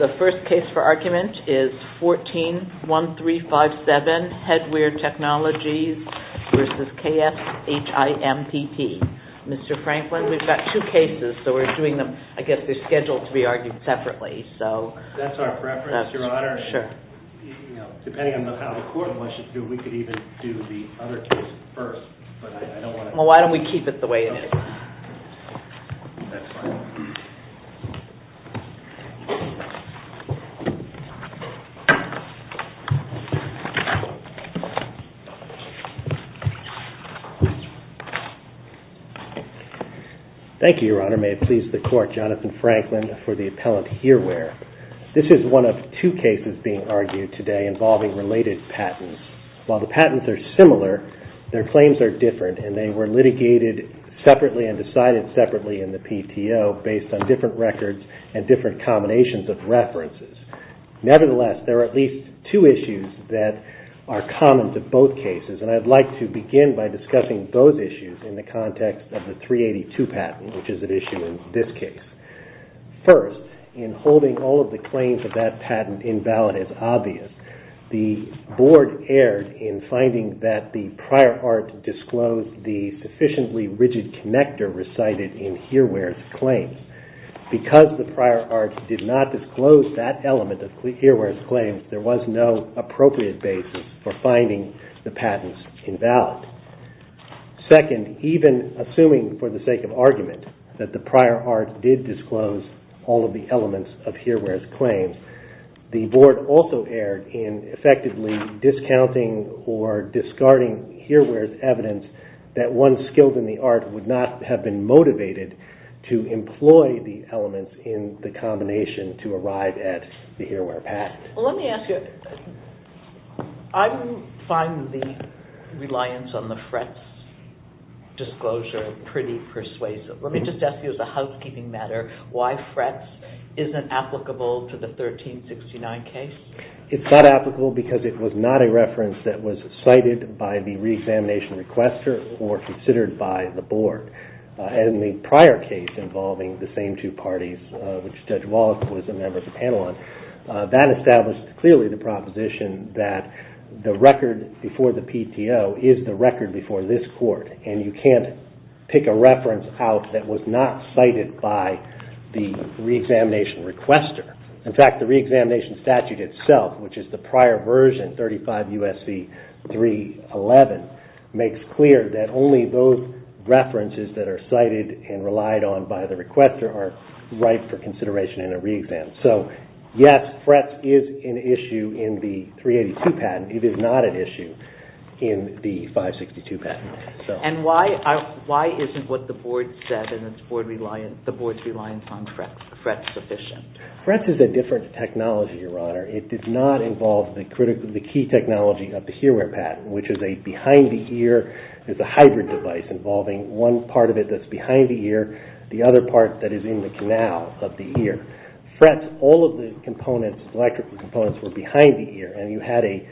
The first case for argument is 14-1357, Head-Wear Technologies v. KSHIMPP. Mr. Franklin, we've got two cases, so we're doing them, I guess they're scheduled to be argued separately. That's our preference, Your Honor. Sure. Depending on how the court wishes to do it, we could even do the other case first. Well, why don't we keep it the way it is? That's fine. Thank you, Your Honor. May it please the Court, Jonathan Franklin for the appellant Hear-Wear. This is one of two cases being argued today involving related patents. While the patents are similar, their claims are different, and they were litigated separately and decided separately in the PTO based on different records and different combinations of references. Nevertheless, there are at least two issues that are common to both cases, and I'd like to begin by discussing those issues in the context of the 382 patent, which is at issue in this case. First, in holding all of the claims of that patent invalid as obvious, the Board erred in finding that the prior art disclosed the sufficiently rigid connector recited in Hear-Wear's claims. Because the prior art did not disclose that element of Hear-Wear's claims, there was no appropriate basis for finding the patents invalid. Second, even assuming for the sake of argument that the prior art did disclose all of the elements of Hear-Wear's claims, the Board also erred in effectively discounting or discarding Hear-Wear's evidence that one skilled in the art would not have been motivated to employ the elements in the combination to arrive at the Hear-Wear patent. Let me ask you, I find the reliance on the Fretz disclosure pretty persuasive. Let me just ask you as a housekeeping matter, why Fretz isn't applicable to the 1369 case? It's not applicable because it was not a reference that was cited by the reexamination requester or considered by the Board. In the prior case involving the same two parties, which Judge Davis clearly the proposition that the record before the PTO is the record before this court and you can't pick a reference out that was not cited by the reexamination requester. In fact, the reexamination statute itself, which is the prior version, 35 U.S.C. 311, makes clear that only those references that are cited and relied on by the requester are required for consideration in a reexam. So yes, Fretz is an issue in the 382 patent. It is not an issue in the 562 patent. And why isn't what the Board said and the Board's reliance on Fretz sufficient? Fretz is a different technology, Your Honor. It did not involve the key technology of the Hear-Wear patent, which is a behind-the-ear, it's a hybrid device involving one part of the ear. Fretz, all of the electrical components were behind the ear and you had a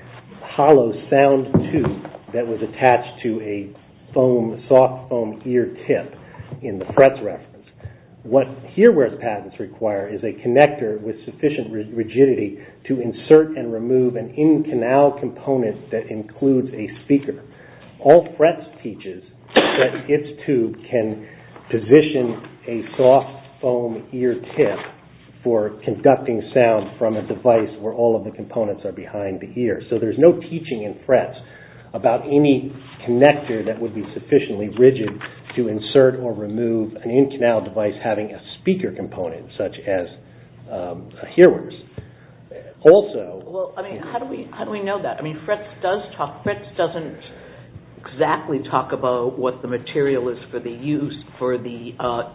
hollow sound tube that was attached to a soft foam ear tip in the Fretz reference. What Hear-Wear patents require is a connector with sufficient rigidity to insert and remove an in-canal component that includes a speaker. All Fretz teaches that its tube can position a soft foam ear tip for conducting sound from a device where all of the components are behind the ear. So there's no teaching in Fretz about any connector that would be sufficiently rigid to insert or remove an in-canal device having a speaker component such as a Hear-Wear's. Also... Well, I mean, how do we know that? I mean, Fretz does talk, Fretz doesn't exactly talk about what the material is for the use for the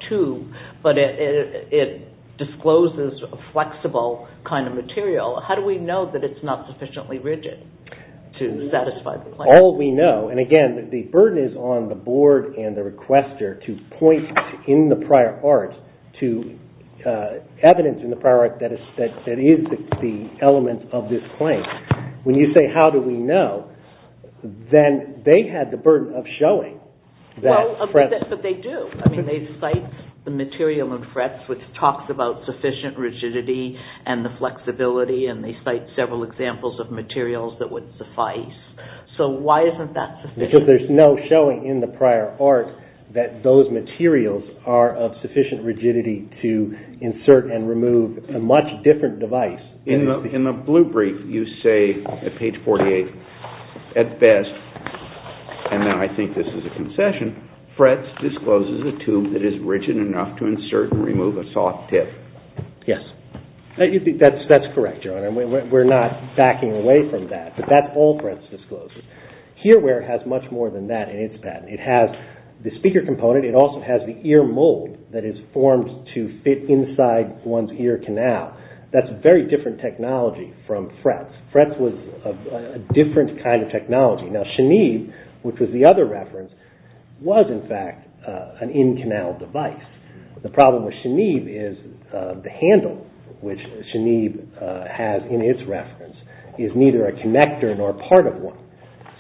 tube, but it discloses a flexible kind of material. How do we know that it's not sufficiently rigid to satisfy the claim? All we know, and again, the burden is on the board and the requester to point in the prior art to evidence in the prior art that is the element of this claim. When you say, how do we know, then they had the burden of showing that Fretz... Well, but they do. I mean, they cite the material in Fretz which talks about sufficient rigidity and the flexibility, and they cite several examples of materials that would suffice. So why isn't that sufficient? Because there's no showing in the prior art that those materials are of sufficient rigidity to insert and remove a much different device. In the blue brief, you say, at page 48, at best, and now I think this is a concession, Fretz discloses a tube that is rigid enough to insert and remove a soft tip. Yes. That's correct, Your Honor. We're not backing away from that, but that's all Fretz discloses. Hearwear has much more than that in its patent. It has the speaker component, it also has the ear mold that is formed to fit inside one's ear canal. That's very different technology from Fretz. Fretz was a different kind of technology. Now, Chenib, which was the other reference, was, in fact, an in-canal device. The problem with Chenib is the handle, which Chenib has in its reference, is neither a connector nor part of one.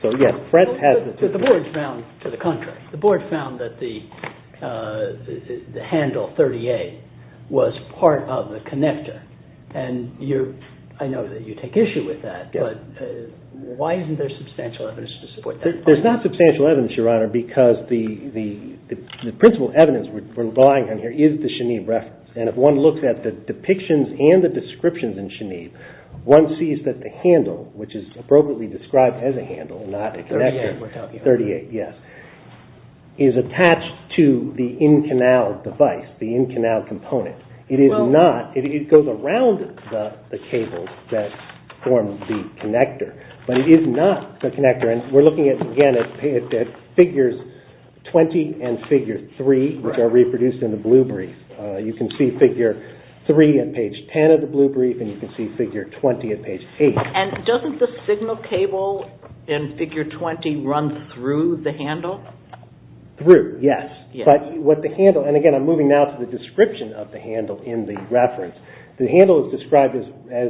So, yes, Fretz has... But the board found, to the contrary, the board found that the handle 38 was part of the connector, and I know that you take issue with that, but why isn't there substantial evidence to support that? There's not substantial evidence, Your Honor, because the principal evidence we're relying on here is the Chenib reference, and if one looks at the depictions and the descriptions in Chenib, one sees that the handle, which is appropriately described as a handle and not a connector, 38, yes, is attached to the in-canal device, the in-canal component. It is not, it goes around the cable that forms the connector, but it is not the connector, and we're looking at, again, at figures 20 and figure 3, which are reproduced in the blue brief. You can see figure 3 at page 10 of the blue brief, and you can see figure 20 at page 8. And doesn't the signal cable in figure 20 run through the handle? Through, yes, but what the handle, and again, I'm moving now to the description of the handle in the reference. The handle is described as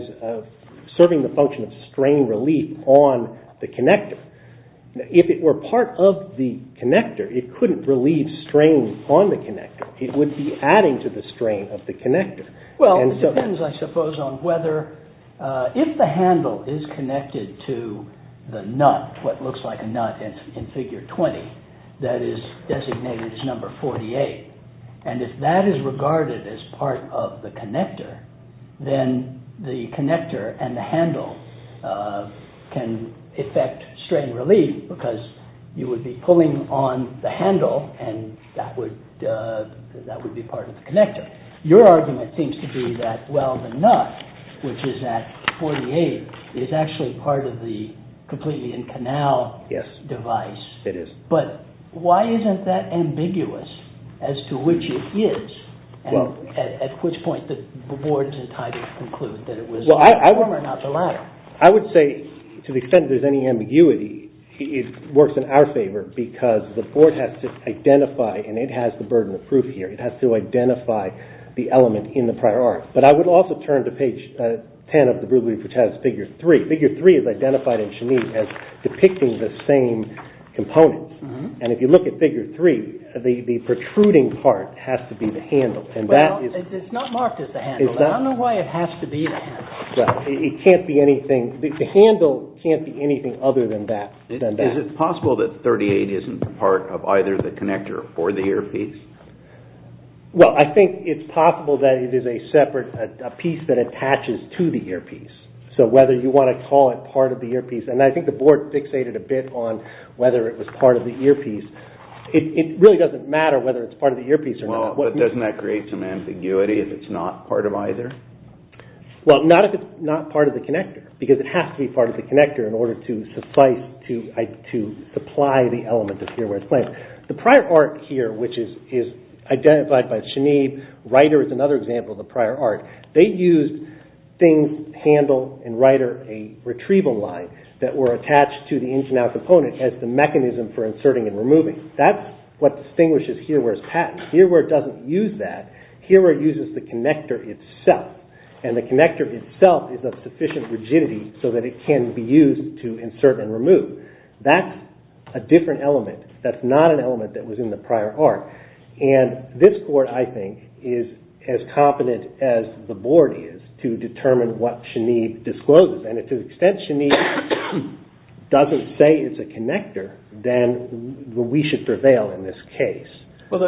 serving the function of strain relief on the connector. If it were part of the connector, it couldn't relieve strain on the connector. It would be adding to the strain of the connector. Well, it depends, I suppose, on whether, if the handle is connected to the nut, what looks like a nut in figure 20, that is designated as number 48, and if that is regarded as part of the connector, then the connector and the handle can affect strain relief, because you would be pulling on the handle, and that would be part of the connector. But your argument seems to be that, well, the nut, which is at 48, is actually part of the completely in-canal device. Yes, it is. But why isn't that ambiguous, as to which it is, at which point the board is entitled to conclude that it was the former, not the latter? I would say, to the extent there's any ambiguity, it works in our favor, because the board has to identify, and it has the burden of proof here, it has to identify the element in the prior art. But I would also turn to page 10 of the rubric, which has figure 3. Figure 3 is identified in Chenise as depicting the same component, and if you look at figure 3, the protruding part has to be the handle. Well, it's not marked as the handle. I don't know why it has to be the handle. It can't be anything, the handle can't be anything other than that. Is it possible that 38 isn't part of either the connector or the earpiece? Well, I think it's possible that it is a separate, a piece that attaches to the earpiece. So whether you want to call it part of the earpiece, and I think the board fixated a bit on whether it was part of the earpiece. It really doesn't matter whether it's part of the earpiece or not. Well, but doesn't that create some ambiguity if it's not part of either? Well, not if it's not part of the connector, because it has to be part of the connector in order to suffice to supply the element of Hearwear's plans. The prior art here, which is identified by Chenise, Reiter is another example of the prior art. They used things, handle and Reiter, a retrieval line that were attached to the in-to-out component as the mechanism for inserting and removing. That's what distinguishes Hearwear's patent. Hearwear doesn't use that. Hearwear uses the connector itself, and the connector itself is of sufficient rigidity so that it can be used to insert and remove. That's a different element. That's not an element that was in the prior art, and this court, I think, is as competent as the board is to determine what Chenise discloses, and to the extent Chenise doesn't say it's a connector, then we should prevail in this case. Well,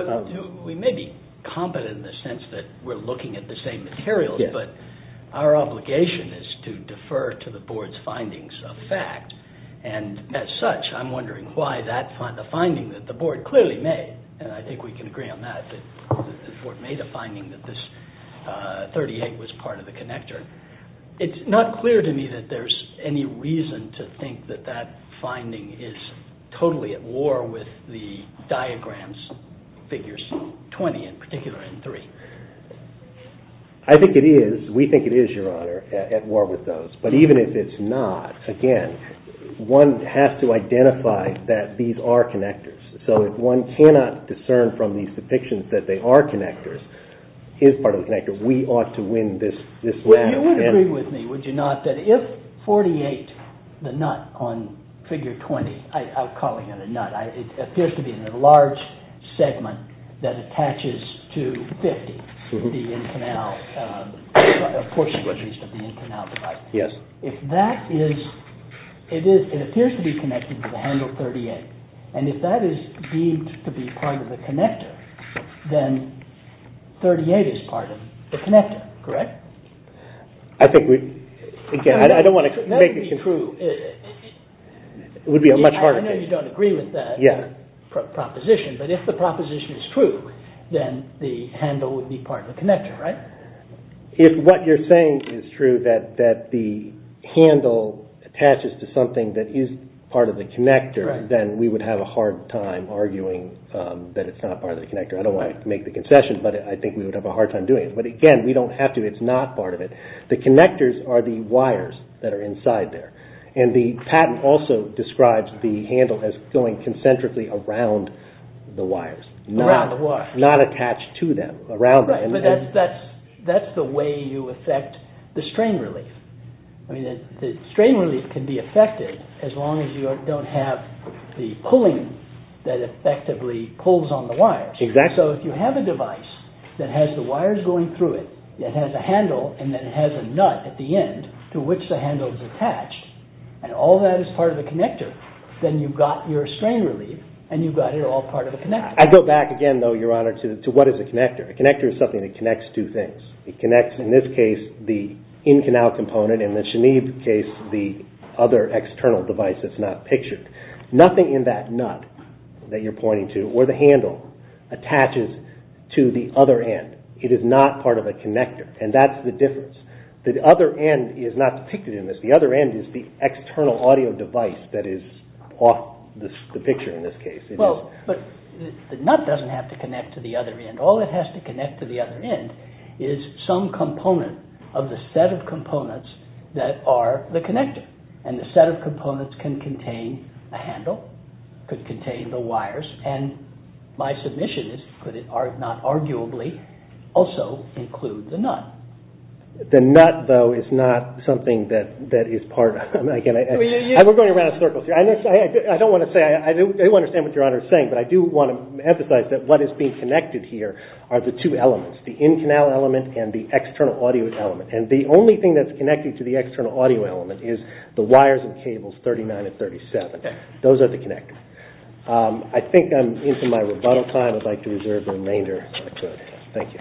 we may be competent in the sense that we're looking at the same materials, but our findings of fact, and as such, I'm wondering why the finding that the board clearly made, and I think we can agree on that, that the board made a finding that this 38 was part of the connector. It's not clear to me that there's any reason to think that that finding is totally at war with the diagrams, figures 20 in particular, and 3. I think it is. We think it is, Your Honor, at war with those, but even if it's not, again, one has to identify that these are connectors, so if one cannot discern from these depictions that they are connectors, is part of the connector, we ought to win this battle. Well, you would agree with me, would you not, that if 48, the nut on figure 20, I'm calling to be an enlarged segment that attaches to 50, the in-canal portion, at least, of the in-canal device. Yes. If that is, it appears to be connected to the handle 38, and if that is deemed to be part of the connector, then 38 is part of the connector, correct? I think we, again, I don't want to make... That would be true. It would be a much harder case. I understand you don't agree with that proposition, but if the proposition is true, then the handle would be part of the connector, right? If what you're saying is true, that the handle attaches to something that is part of the connector, then we would have a hard time arguing that it's not part of the connector. I don't want to make the concession, but I think we would have a hard time doing it, but again, we don't have to. It's not part of it. The connectors are the wires that are inside there, and the patent also describes the handle as going concentrically around the wires. Around the wires. Not attached to them, around them. Right, but that's the way you affect the strain relief. I mean, the strain relief can be affected as long as you don't have the pulling that effectively pulls on the wires. Exactly. So, if you have a device that has the wires going through it, that has a handle, and then has a nut at the end to which the handle is attached, and all that is part of the connector, then you've got your strain relief, and you've got it all part of the connector. I go back again, though, Your Honor, to what is a connector? A connector is something that connects two things. It connects, in this case, the in-canal component, and in the Shanib case, the other external device that's not pictured. Nothing in that nut that you're pointing to, or the handle, attaches to the other end. It is not part of a connector, and that's the difference. The other end is not depicted in this. The other end is the external audio device that is off the picture in this case. Well, but the nut doesn't have to connect to the other end. All it has to connect to the other end is some component of the set of components that are the connector, and the set of components can contain a handle, could contain the wires, and my submission is could it not arguably also include the nut? The nut, though, is not something that is part of it. We're going around in circles here. I don't want to say, I do understand what Your Honor is saying, but I do want to emphasize that what is being connected here are the two elements, the in-canal element and the external audio element. And the only thing that's connected to the external audio element is the wires and cables 39 and 37. Those are the connectors. I think I'm into my rebuttal time. I'd like to reserve the remainder if I could. Thank you.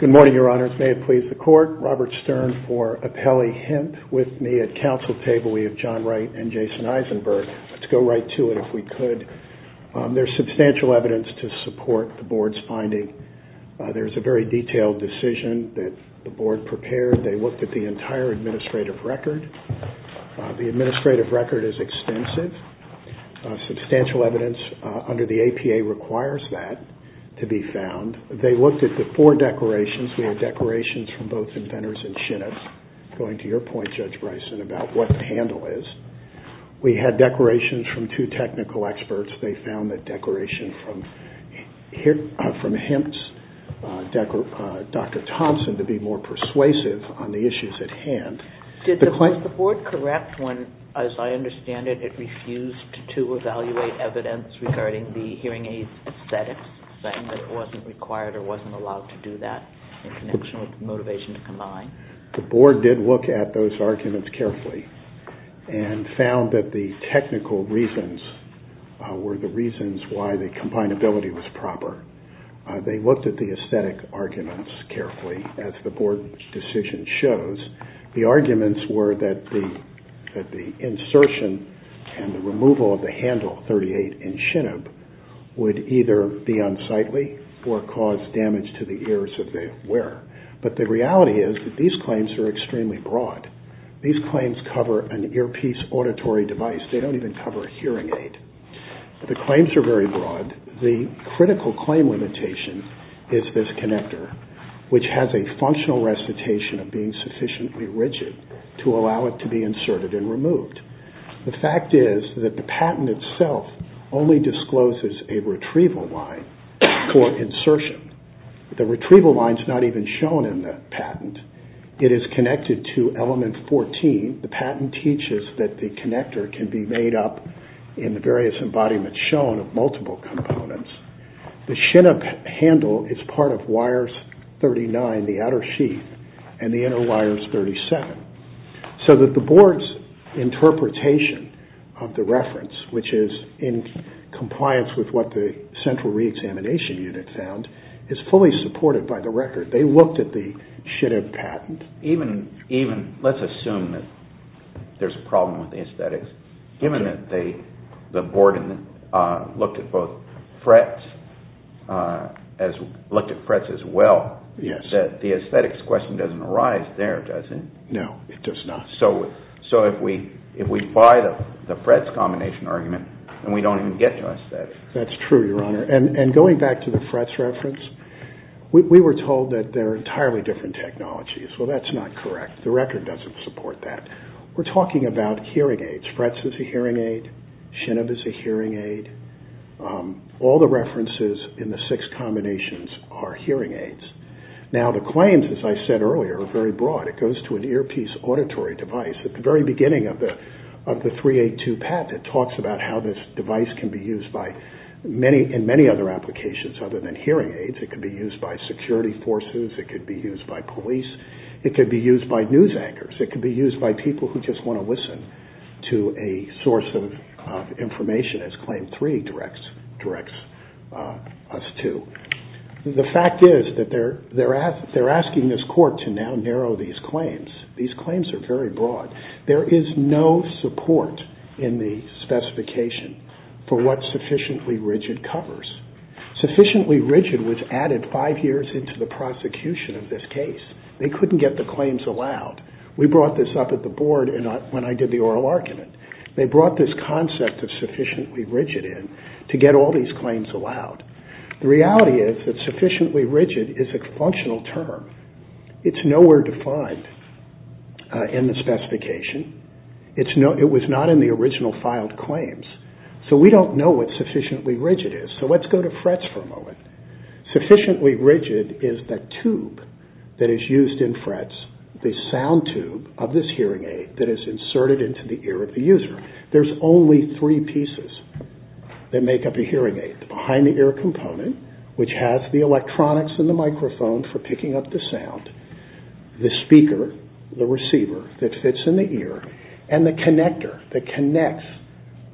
Good morning, Your Honors. May it please the Court. Robert Stern for Appellee Hint. With me at Council table we have John Wright and Jason Eisenberg. Let's go right to it if we could. There's substantial evidence to support the Board's finding. There's a very detailed decision that the Board prepared. They looked at the entire administrative record. The administrative record is extensive. Substantial evidence under the APA requires that to be found. They looked at the four declarations. We had declarations from both inventors and chinips, going to your point, Judge Bryson, about what the handle is. We had declarations from two technical experts. They found that declaration from Hempst, Dr. Thompson, to be more persuasive on the issues at hand. Was the Board correct when, as I understand it, it refused to evaluate evidence regarding the hearing aid aesthetics, saying that it wasn't required or wasn't allowed to do that in connection with the motivation to combine? The Board did look at those arguments carefully and found that the technical reasons were the reasons why the combinability was proper. They looked at the aesthetic arguments carefully, as the Board decision shows. The arguments were that the insertion and the removal of the handle 38 in chinip would either be unsightly or cause damage to the ears of the wearer. But the reality is that these claims are extremely broad. These claims cover an earpiece auditory device. They don't even cover a hearing aid. The claims are very broad. The critical claim limitation is this connector, which has a functional recitation of being sufficiently rigid to allow it to be inserted and removed. The fact is that the patent itself only discloses a retrieval line for insertion. The retrieval line is not even shown in the patent. It is connected to element 14. The patent teaches that the connector can be made up in the various embodiments shown of multiple components. The chinip handle is part of wires 39, the outer sheath, and the inner wire is 37. So that the Board's interpretation of the reference, which is in compliance with what the central reexamination unit found, is fully supported by the record. They looked at the Shinib patent. Even, let's assume that there's a problem with the aesthetics. Given that the Board looked at both Fretz, looked at Fretz as well, the aesthetics question doesn't arise there, does it? No, it does not. So if we buy the Fretz combination argument, then we don't even get to aesthetics. That's true, Your Honor. And going back to the Fretz reference, we were told that they're entirely different technologies. Well, that's not correct. The record doesn't support that. We're talking about hearing aids. Fretz is a hearing aid. Shinib is a hearing aid. All the references in the six combinations are hearing aids. Now, the claims, as I said earlier, are very broad. It goes to an earpiece auditory device. At the very beginning of the 382 patent, it talks about how this device can be used in many other applications other than hearing aids. It could be used by security forces. It could be used by police. It could be used by news anchors. It could be used by people who just want to listen to a source of information, as Claim 3 directs us to. The fact is that they're asking this Court to now narrow these claims. These claims are very broad. There is no support in the specification for what sufficiently rigid covers. Sufficiently rigid was added five years into the prosecution of this case. They couldn't get the claims allowed. We brought this up at the Board when I did the oral argument. They brought this concept of sufficiently rigid in to get all these claims allowed. The reality is that sufficiently rigid is a functional term. It's nowhere defined in the specification. It was not in the original filed claims. So we don't know what sufficiently rigid is. So let's go to FRETS for a moment. Sufficiently rigid is the tube that is used in FRETS, the sound tube of this hearing aid that is inserted into the ear of the user. There's only three pieces that make up a hearing aid. The behind-the-ear component, which has the electronics and the microphone for picking up the sound, the speaker, the receiver that fits in the ear, and the connector that connects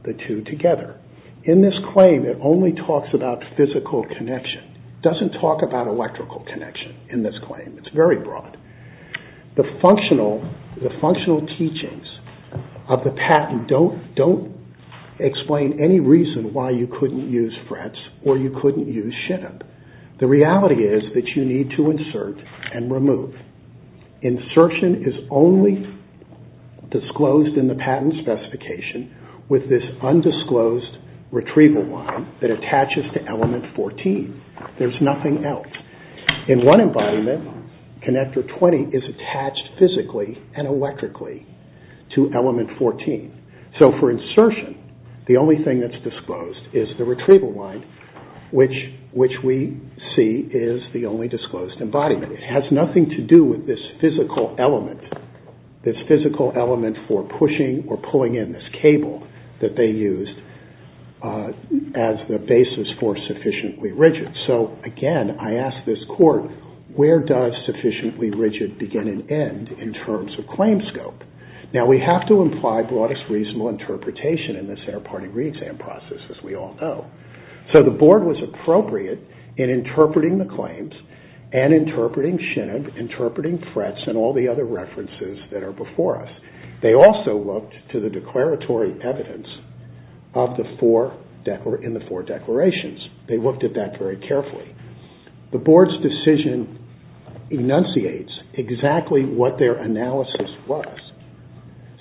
the two together. In this claim, it only talks about physical connection. It doesn't talk about electrical connection in this claim. It's very broad. The functional teachings of the patent don't explain any reason why you couldn't use FRETS or you couldn't use SHIDEM. The reality is that you need to insert and remove. Insertion is only disclosed in the patent specification with this undisclosed retrieval line that attaches to element 14. There's nothing else. In one embodiment, connector 20 is attached physically and electrically to element 14. So for insertion, the only thing that's disclosed is the retrieval line, which we see is the only disclosed embodiment. It has nothing to do with this physical element, this physical element for pushing or pulling in this cable that they used as the basis for sufficiently rigid. So again, I ask this court, where does sufficiently rigid begin and end in terms of claim scope? Now, we have to imply broadest reasonable interpretation in the center party reexam process, as we all know. So the board was appropriate in interpreting the claims and interpreting SHIDEM, interpreting FRETS, and all the other references that are before us. They also looked to the declaratory evidence in the four declarations. They looked at that very carefully. The board's decision enunciates exactly what their analysis was.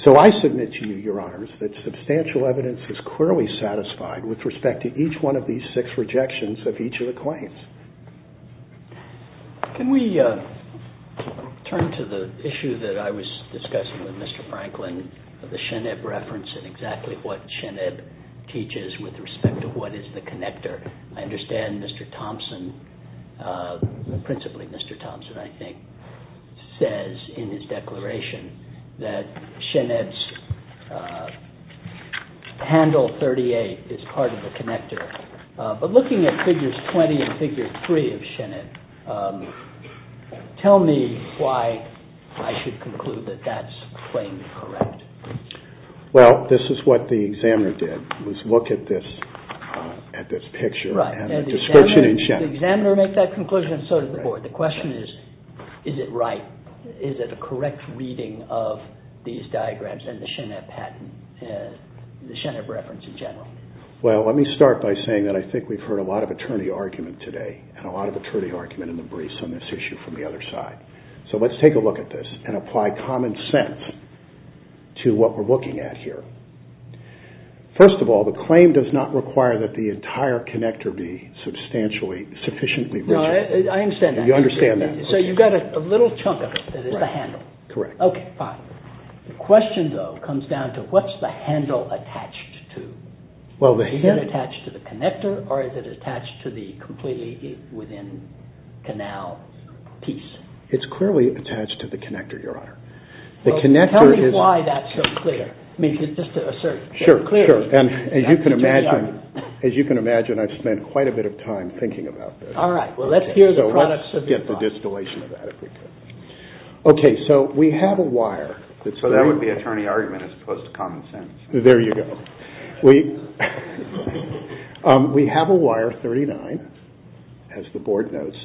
So I submit to you, Your Honors, that substantial evidence is clearly satisfied with respect to each one of these six rejections of each of the claims. Can we turn to the issue that I was discussing with Mr. Franklin, the Sheneb reference and exactly what Sheneb teaches with respect to what is the connector? I understand Mr. Thompson, principally Mr. Thompson, I think, says in his declaration that Sheneb's handle 38 is part of the connector. But looking at figures 20 and figure 3 of Sheneb, tell me why I should conclude that that's plainly correct. Well, this is what the examiner did, was look at this picture and the description in Sheneb. The examiner made that conclusion and so did the board. The question is, is it right? Is it a correct reading of these diagrams and the Sheneb reference in general? Well, let me start by saying that I think we've heard a lot of attorney argument today and a lot of attorney argument in the briefs on this issue from the other side. So let's take a look at this and apply common sense to what we're looking at here. First of all, the claim does not require that the entire connector be sufficiently rigid. I understand that. You understand that. So you've got a little chunk of it that is the handle. Correct. Okay, fine. The question, though, comes down to what's the handle attached to? Is it attached to the connector or is it attached to the completely within canal piece? It's clearly attached to the connector, Your Honor. Tell me why that's so clear. I mean, just to assert. Sure, sure. As you can imagine, I've spent quite a bit of time thinking about this. All right, well, let's hear the products of your thought. Let's get the distillation of that, if we could. Okay, so we have a wire. So that would be attorney argument as opposed to common sense. There you go. We have a wire 39, as the Board notes.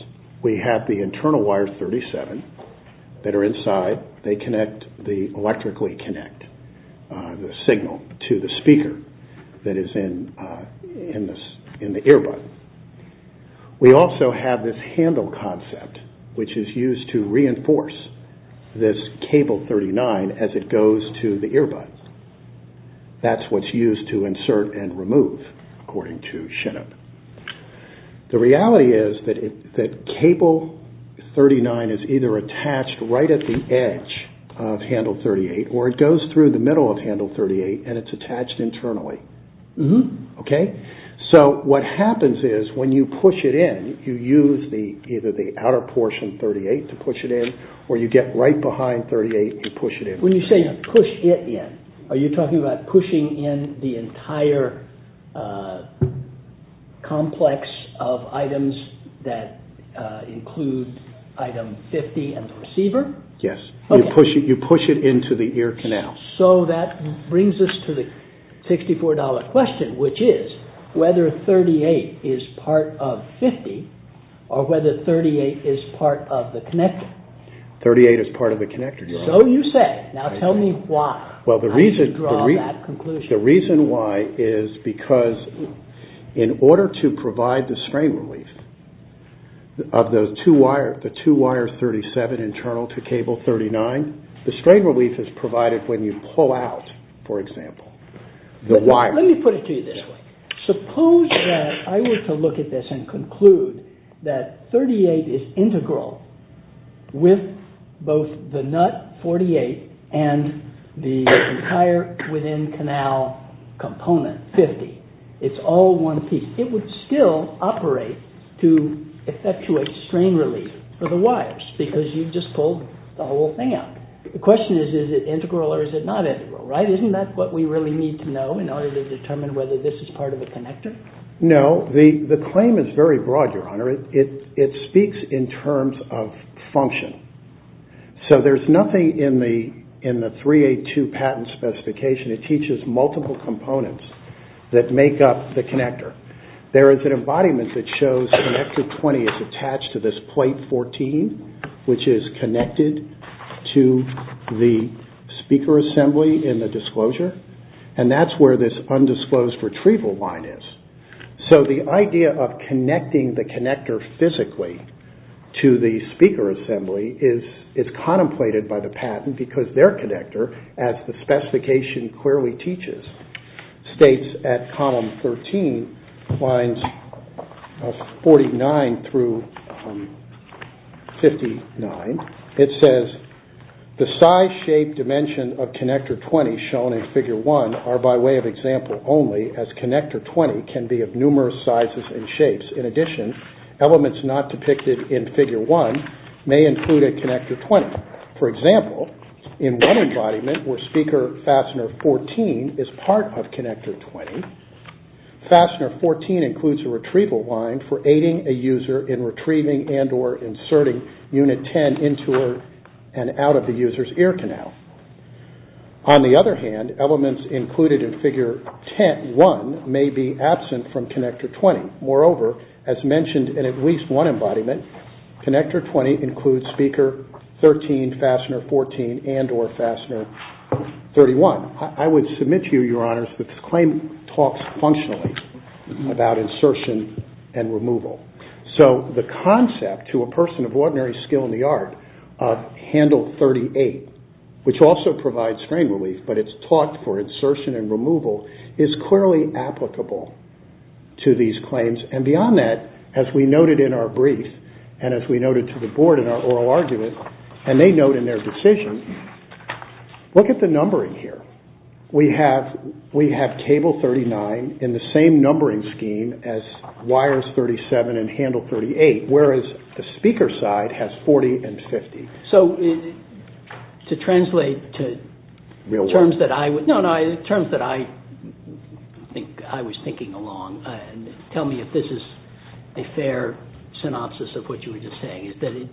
We have the internal wire 37 that are inside. They electrically connect the signal to the speaker that is in the earbud. We also have this handle concept, which is used to reinforce this cable 39 as it goes to the earbud. That's what's used to insert and remove, according to Shinnop. The reality is that cable 39 is either attached right at the edge of handle 38 or it goes through the middle of handle 38 and it's attached internally. Okay, so what happens is when you push it in, you use either the outer portion 38 to push it in or you get right behind 38 and push it in. When you say push it in, are you talking about pushing in the entire complex of items that include item 50 and the receiver? Yes. You push it into the ear canal. So that brings us to the $64 question, which is whether 38 is part of 50 or whether 38 is part of the connector. 38 is part of the connector. So you say. Now tell me why. Well, the reason why is because in order to provide the strain relief of the two wires 37 internal to cable 39, the strain relief is provided when you pull out, for example, the wire. Let me put it to you this way. Suppose that I were to look at this and conclude that 38 is integral with both the nut 48 and the entire within canal component 50. It's all one piece. It would still operate to effectuate strain relief for the wires because you've just pulled the whole thing out. The question is, is it integral or is it not integral, right? Isn't that what we really need to know in order to determine whether this is part of a connector? No. The claim is very broad, Your Honor. It speaks in terms of function. So there's nothing in the 382 patent specification that teaches multiple components that make up the connector. There is an embodiment that shows connector 20 is attached to this plate 14, which is connected to the speaker assembly in the disclosure, and that's where this undisclosed retrieval line is. So the idea of connecting the connector physically to the speaker assembly is contemplated by the patent because their connector, as the specification clearly teaches, states at column 13, lines 49 through 59, it says the size, shape, dimension of connector 20 shown in figure 1 are by way of example only as connector 20 can be of numerous sizes and shapes. In addition, elements not depicted in figure 1 may include a connector 20. For example, in one embodiment where speaker fastener 14 is part of connector 20, fastener 14 includes a retrieval line for aiding a user in retrieving and or inserting unit 10 into and out of the user's ear canal. On the other hand, elements included in figure 1 may be absent from connector 20. Moreover, as mentioned in at least one embodiment, connector 20 includes speaker 13, fastener 14, and or fastener 31. I would submit to you, Your Honors, that this claim talks functionally about insertion and removal. So the concept to a person of ordinary skill in the art of handle 38, which also provides strain relief, but it's taught for insertion and removal, is clearly applicable to these claims. And beyond that, as we noted in our brief and as we noted to the Board in our oral argument, and they note in their decision, look at the numbering here. We have cable 39 in the same numbering scheme as wires 37 and handle 38, whereas the speaker side has 40 and 50. So to translate to terms that I was thinking along, tell me if this is a fair synopsis of what you were just saying, is that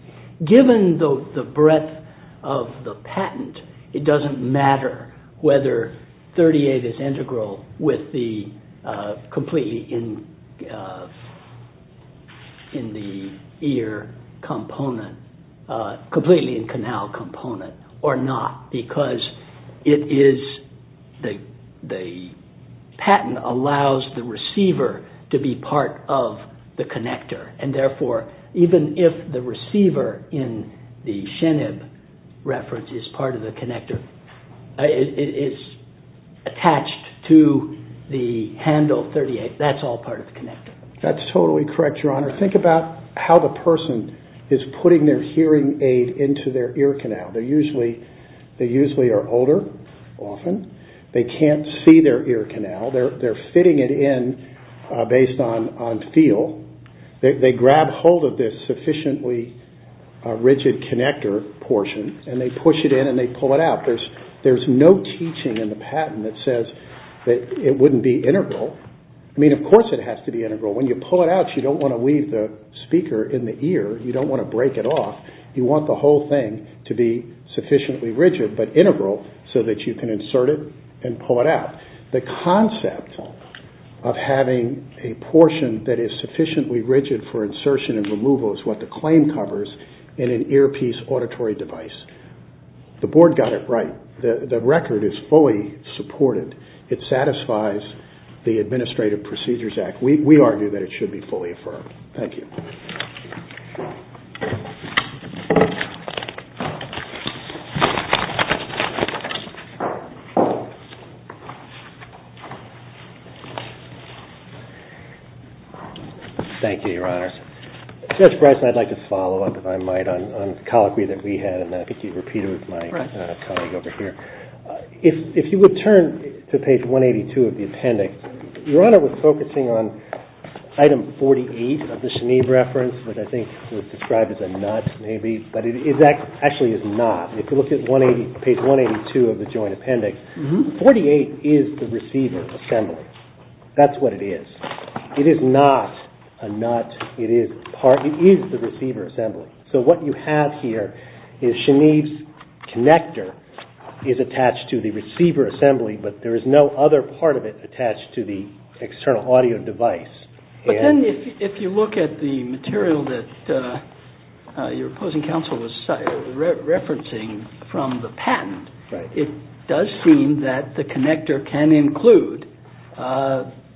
given the breadth of the patent, it doesn't matter whether 38 is integral with the completely in the ear component, completely in canal component or not, because the patent allows the receiver to be part of the connector. And therefore, even if the receiver in the Shenib reference is part of the connector, is attached to the handle 38, that's all part of the connector. That's totally correct, Your Honor. Think about how the person is putting their hearing aid into their ear canal. They usually are older, often. They can't see their ear canal. They're fitting it in based on feel. They grab hold of this sufficiently rigid connector portion and they push it in and they pull it out. There's no teaching in the patent that says that it wouldn't be integral. I mean, of course it has to be integral. When you pull it out, you don't want to leave the speaker in the ear. You don't want to break it off. You want the whole thing to be sufficiently rigid, but integral so that you can insert it and pull it out. The concept of having a portion that is sufficiently rigid for insertion and removal is what the claim covers in an earpiece auditory device. The Board got it right. The record is fully supported. It satisfies the Administrative Procedures Act. We argue that it should be fully affirmed. Thank you. Thank you, Your Honor. Judge Bryson. Judge Bryson, I'd like to follow up, if I might, on the colloquy that we had, and I think you repeated it with my colleague over here. If you would turn to page 182 of the appendix, Your Honor was focusing on item 48 of the Chenier reference, which I think was described as a nut maybe, but it actually is not. If you look at page 182 of the joint appendix, 48 is the receiver assembly. That's what it is. It is not a nut. It is the receiver assembly. So what you have here is Chenier's connector is attached to the receiver assembly, but there is no other part of it attached to the external audio device. But then if you look at the material that your opposing counsel was referencing from the patent, it does seem that the connector can include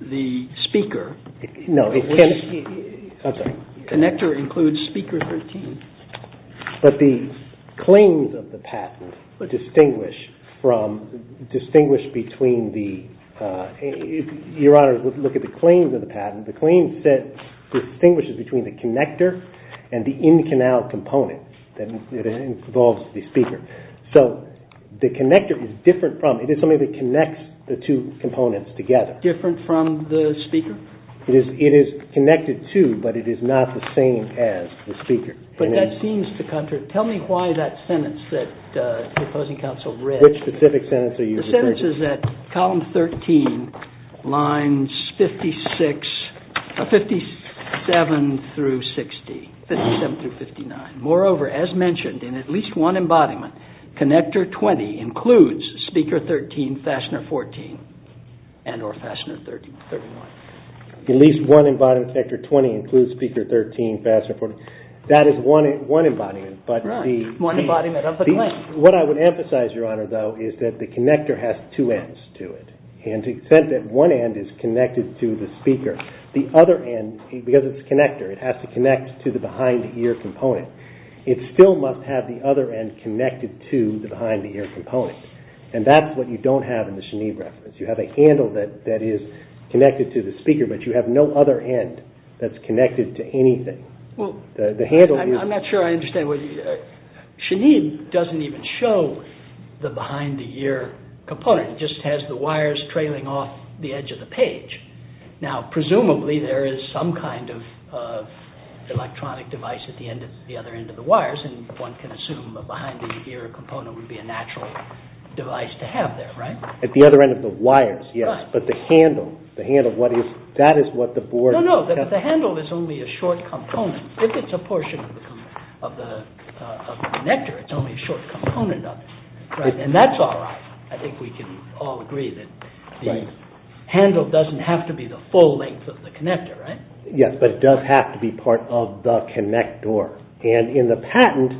the speaker. No, it can't. I'm sorry. Connector includes speaker 13. But the claims of the patent distinguish from, distinguish between the, Your Honor, look at the claims of the patent. The claims set distinguishes between the connector and the in-canal component that involves the speaker. So the connector is different from, it is something that connects the two components together. Different from the speaker? It is connected to, but it is not the same as the speaker. But that seems to, tell me why that sentence that the opposing counsel read. Which specific sentence are you referring to? The sentence is that column 13, lines 57 through 59. Moreover, as mentioned, in at least one embodiment, connector 20 includes speaker 13, fastener 14, and or fastener 31. At least one embodiment, connector 20, includes speaker 13, fastener 14. That is one embodiment. Right, one embodiment of the claim. What I would emphasize, Your Honor, though, is that the connector has two ends to it. And to the extent that one end is connected to the speaker, the other end, because it's a connector, it has to connect to the behind-the-ear component. It still must have the other end connected to the behind-the-ear component. And that's what you don't have in the Shanib reference. You have a handle that is connected to the speaker, but you have no other end that's connected to anything. I'm not sure I understand. Shanib doesn't even show the behind-the-ear component. It just has the wires trailing off the edge of the page. Now, presumably, there is some kind of electronic device at the other end of the wires, and one can assume the behind-the-ear component would be a natural device to have there, right? At the other end of the wires, yes. But the handle, that is what the board... No, no, the handle is only a short component. If it's a portion of the connector, it's only a short component of it. And that's all right. I think we can all agree that the handle doesn't have to be the full length of the connector, right? Yes, but it does have to be part of the connector. And in the patent,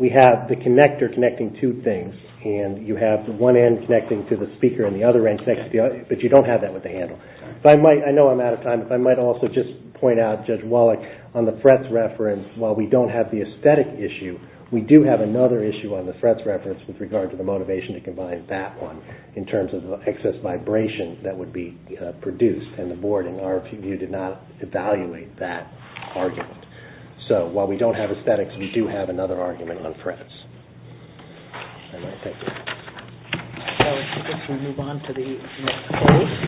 we have the connector connecting two things, and you have the one end connecting to the speaker and the other end connecting to the other, but you don't have that with the handle. I know I'm out of time, but I might also just point out, Judge Wallach, on the Fretz reference, while we don't have the aesthetic issue, we do have another issue on the Fretz reference with regard to the motivation to combine that one in terms of the excess vibration that would be produced in the boarding. Our review did not evaluate that argument. So, while we don't have aesthetics, we do have another argument on Fretz. And I thank you. So, I think it's time to move on to the closing.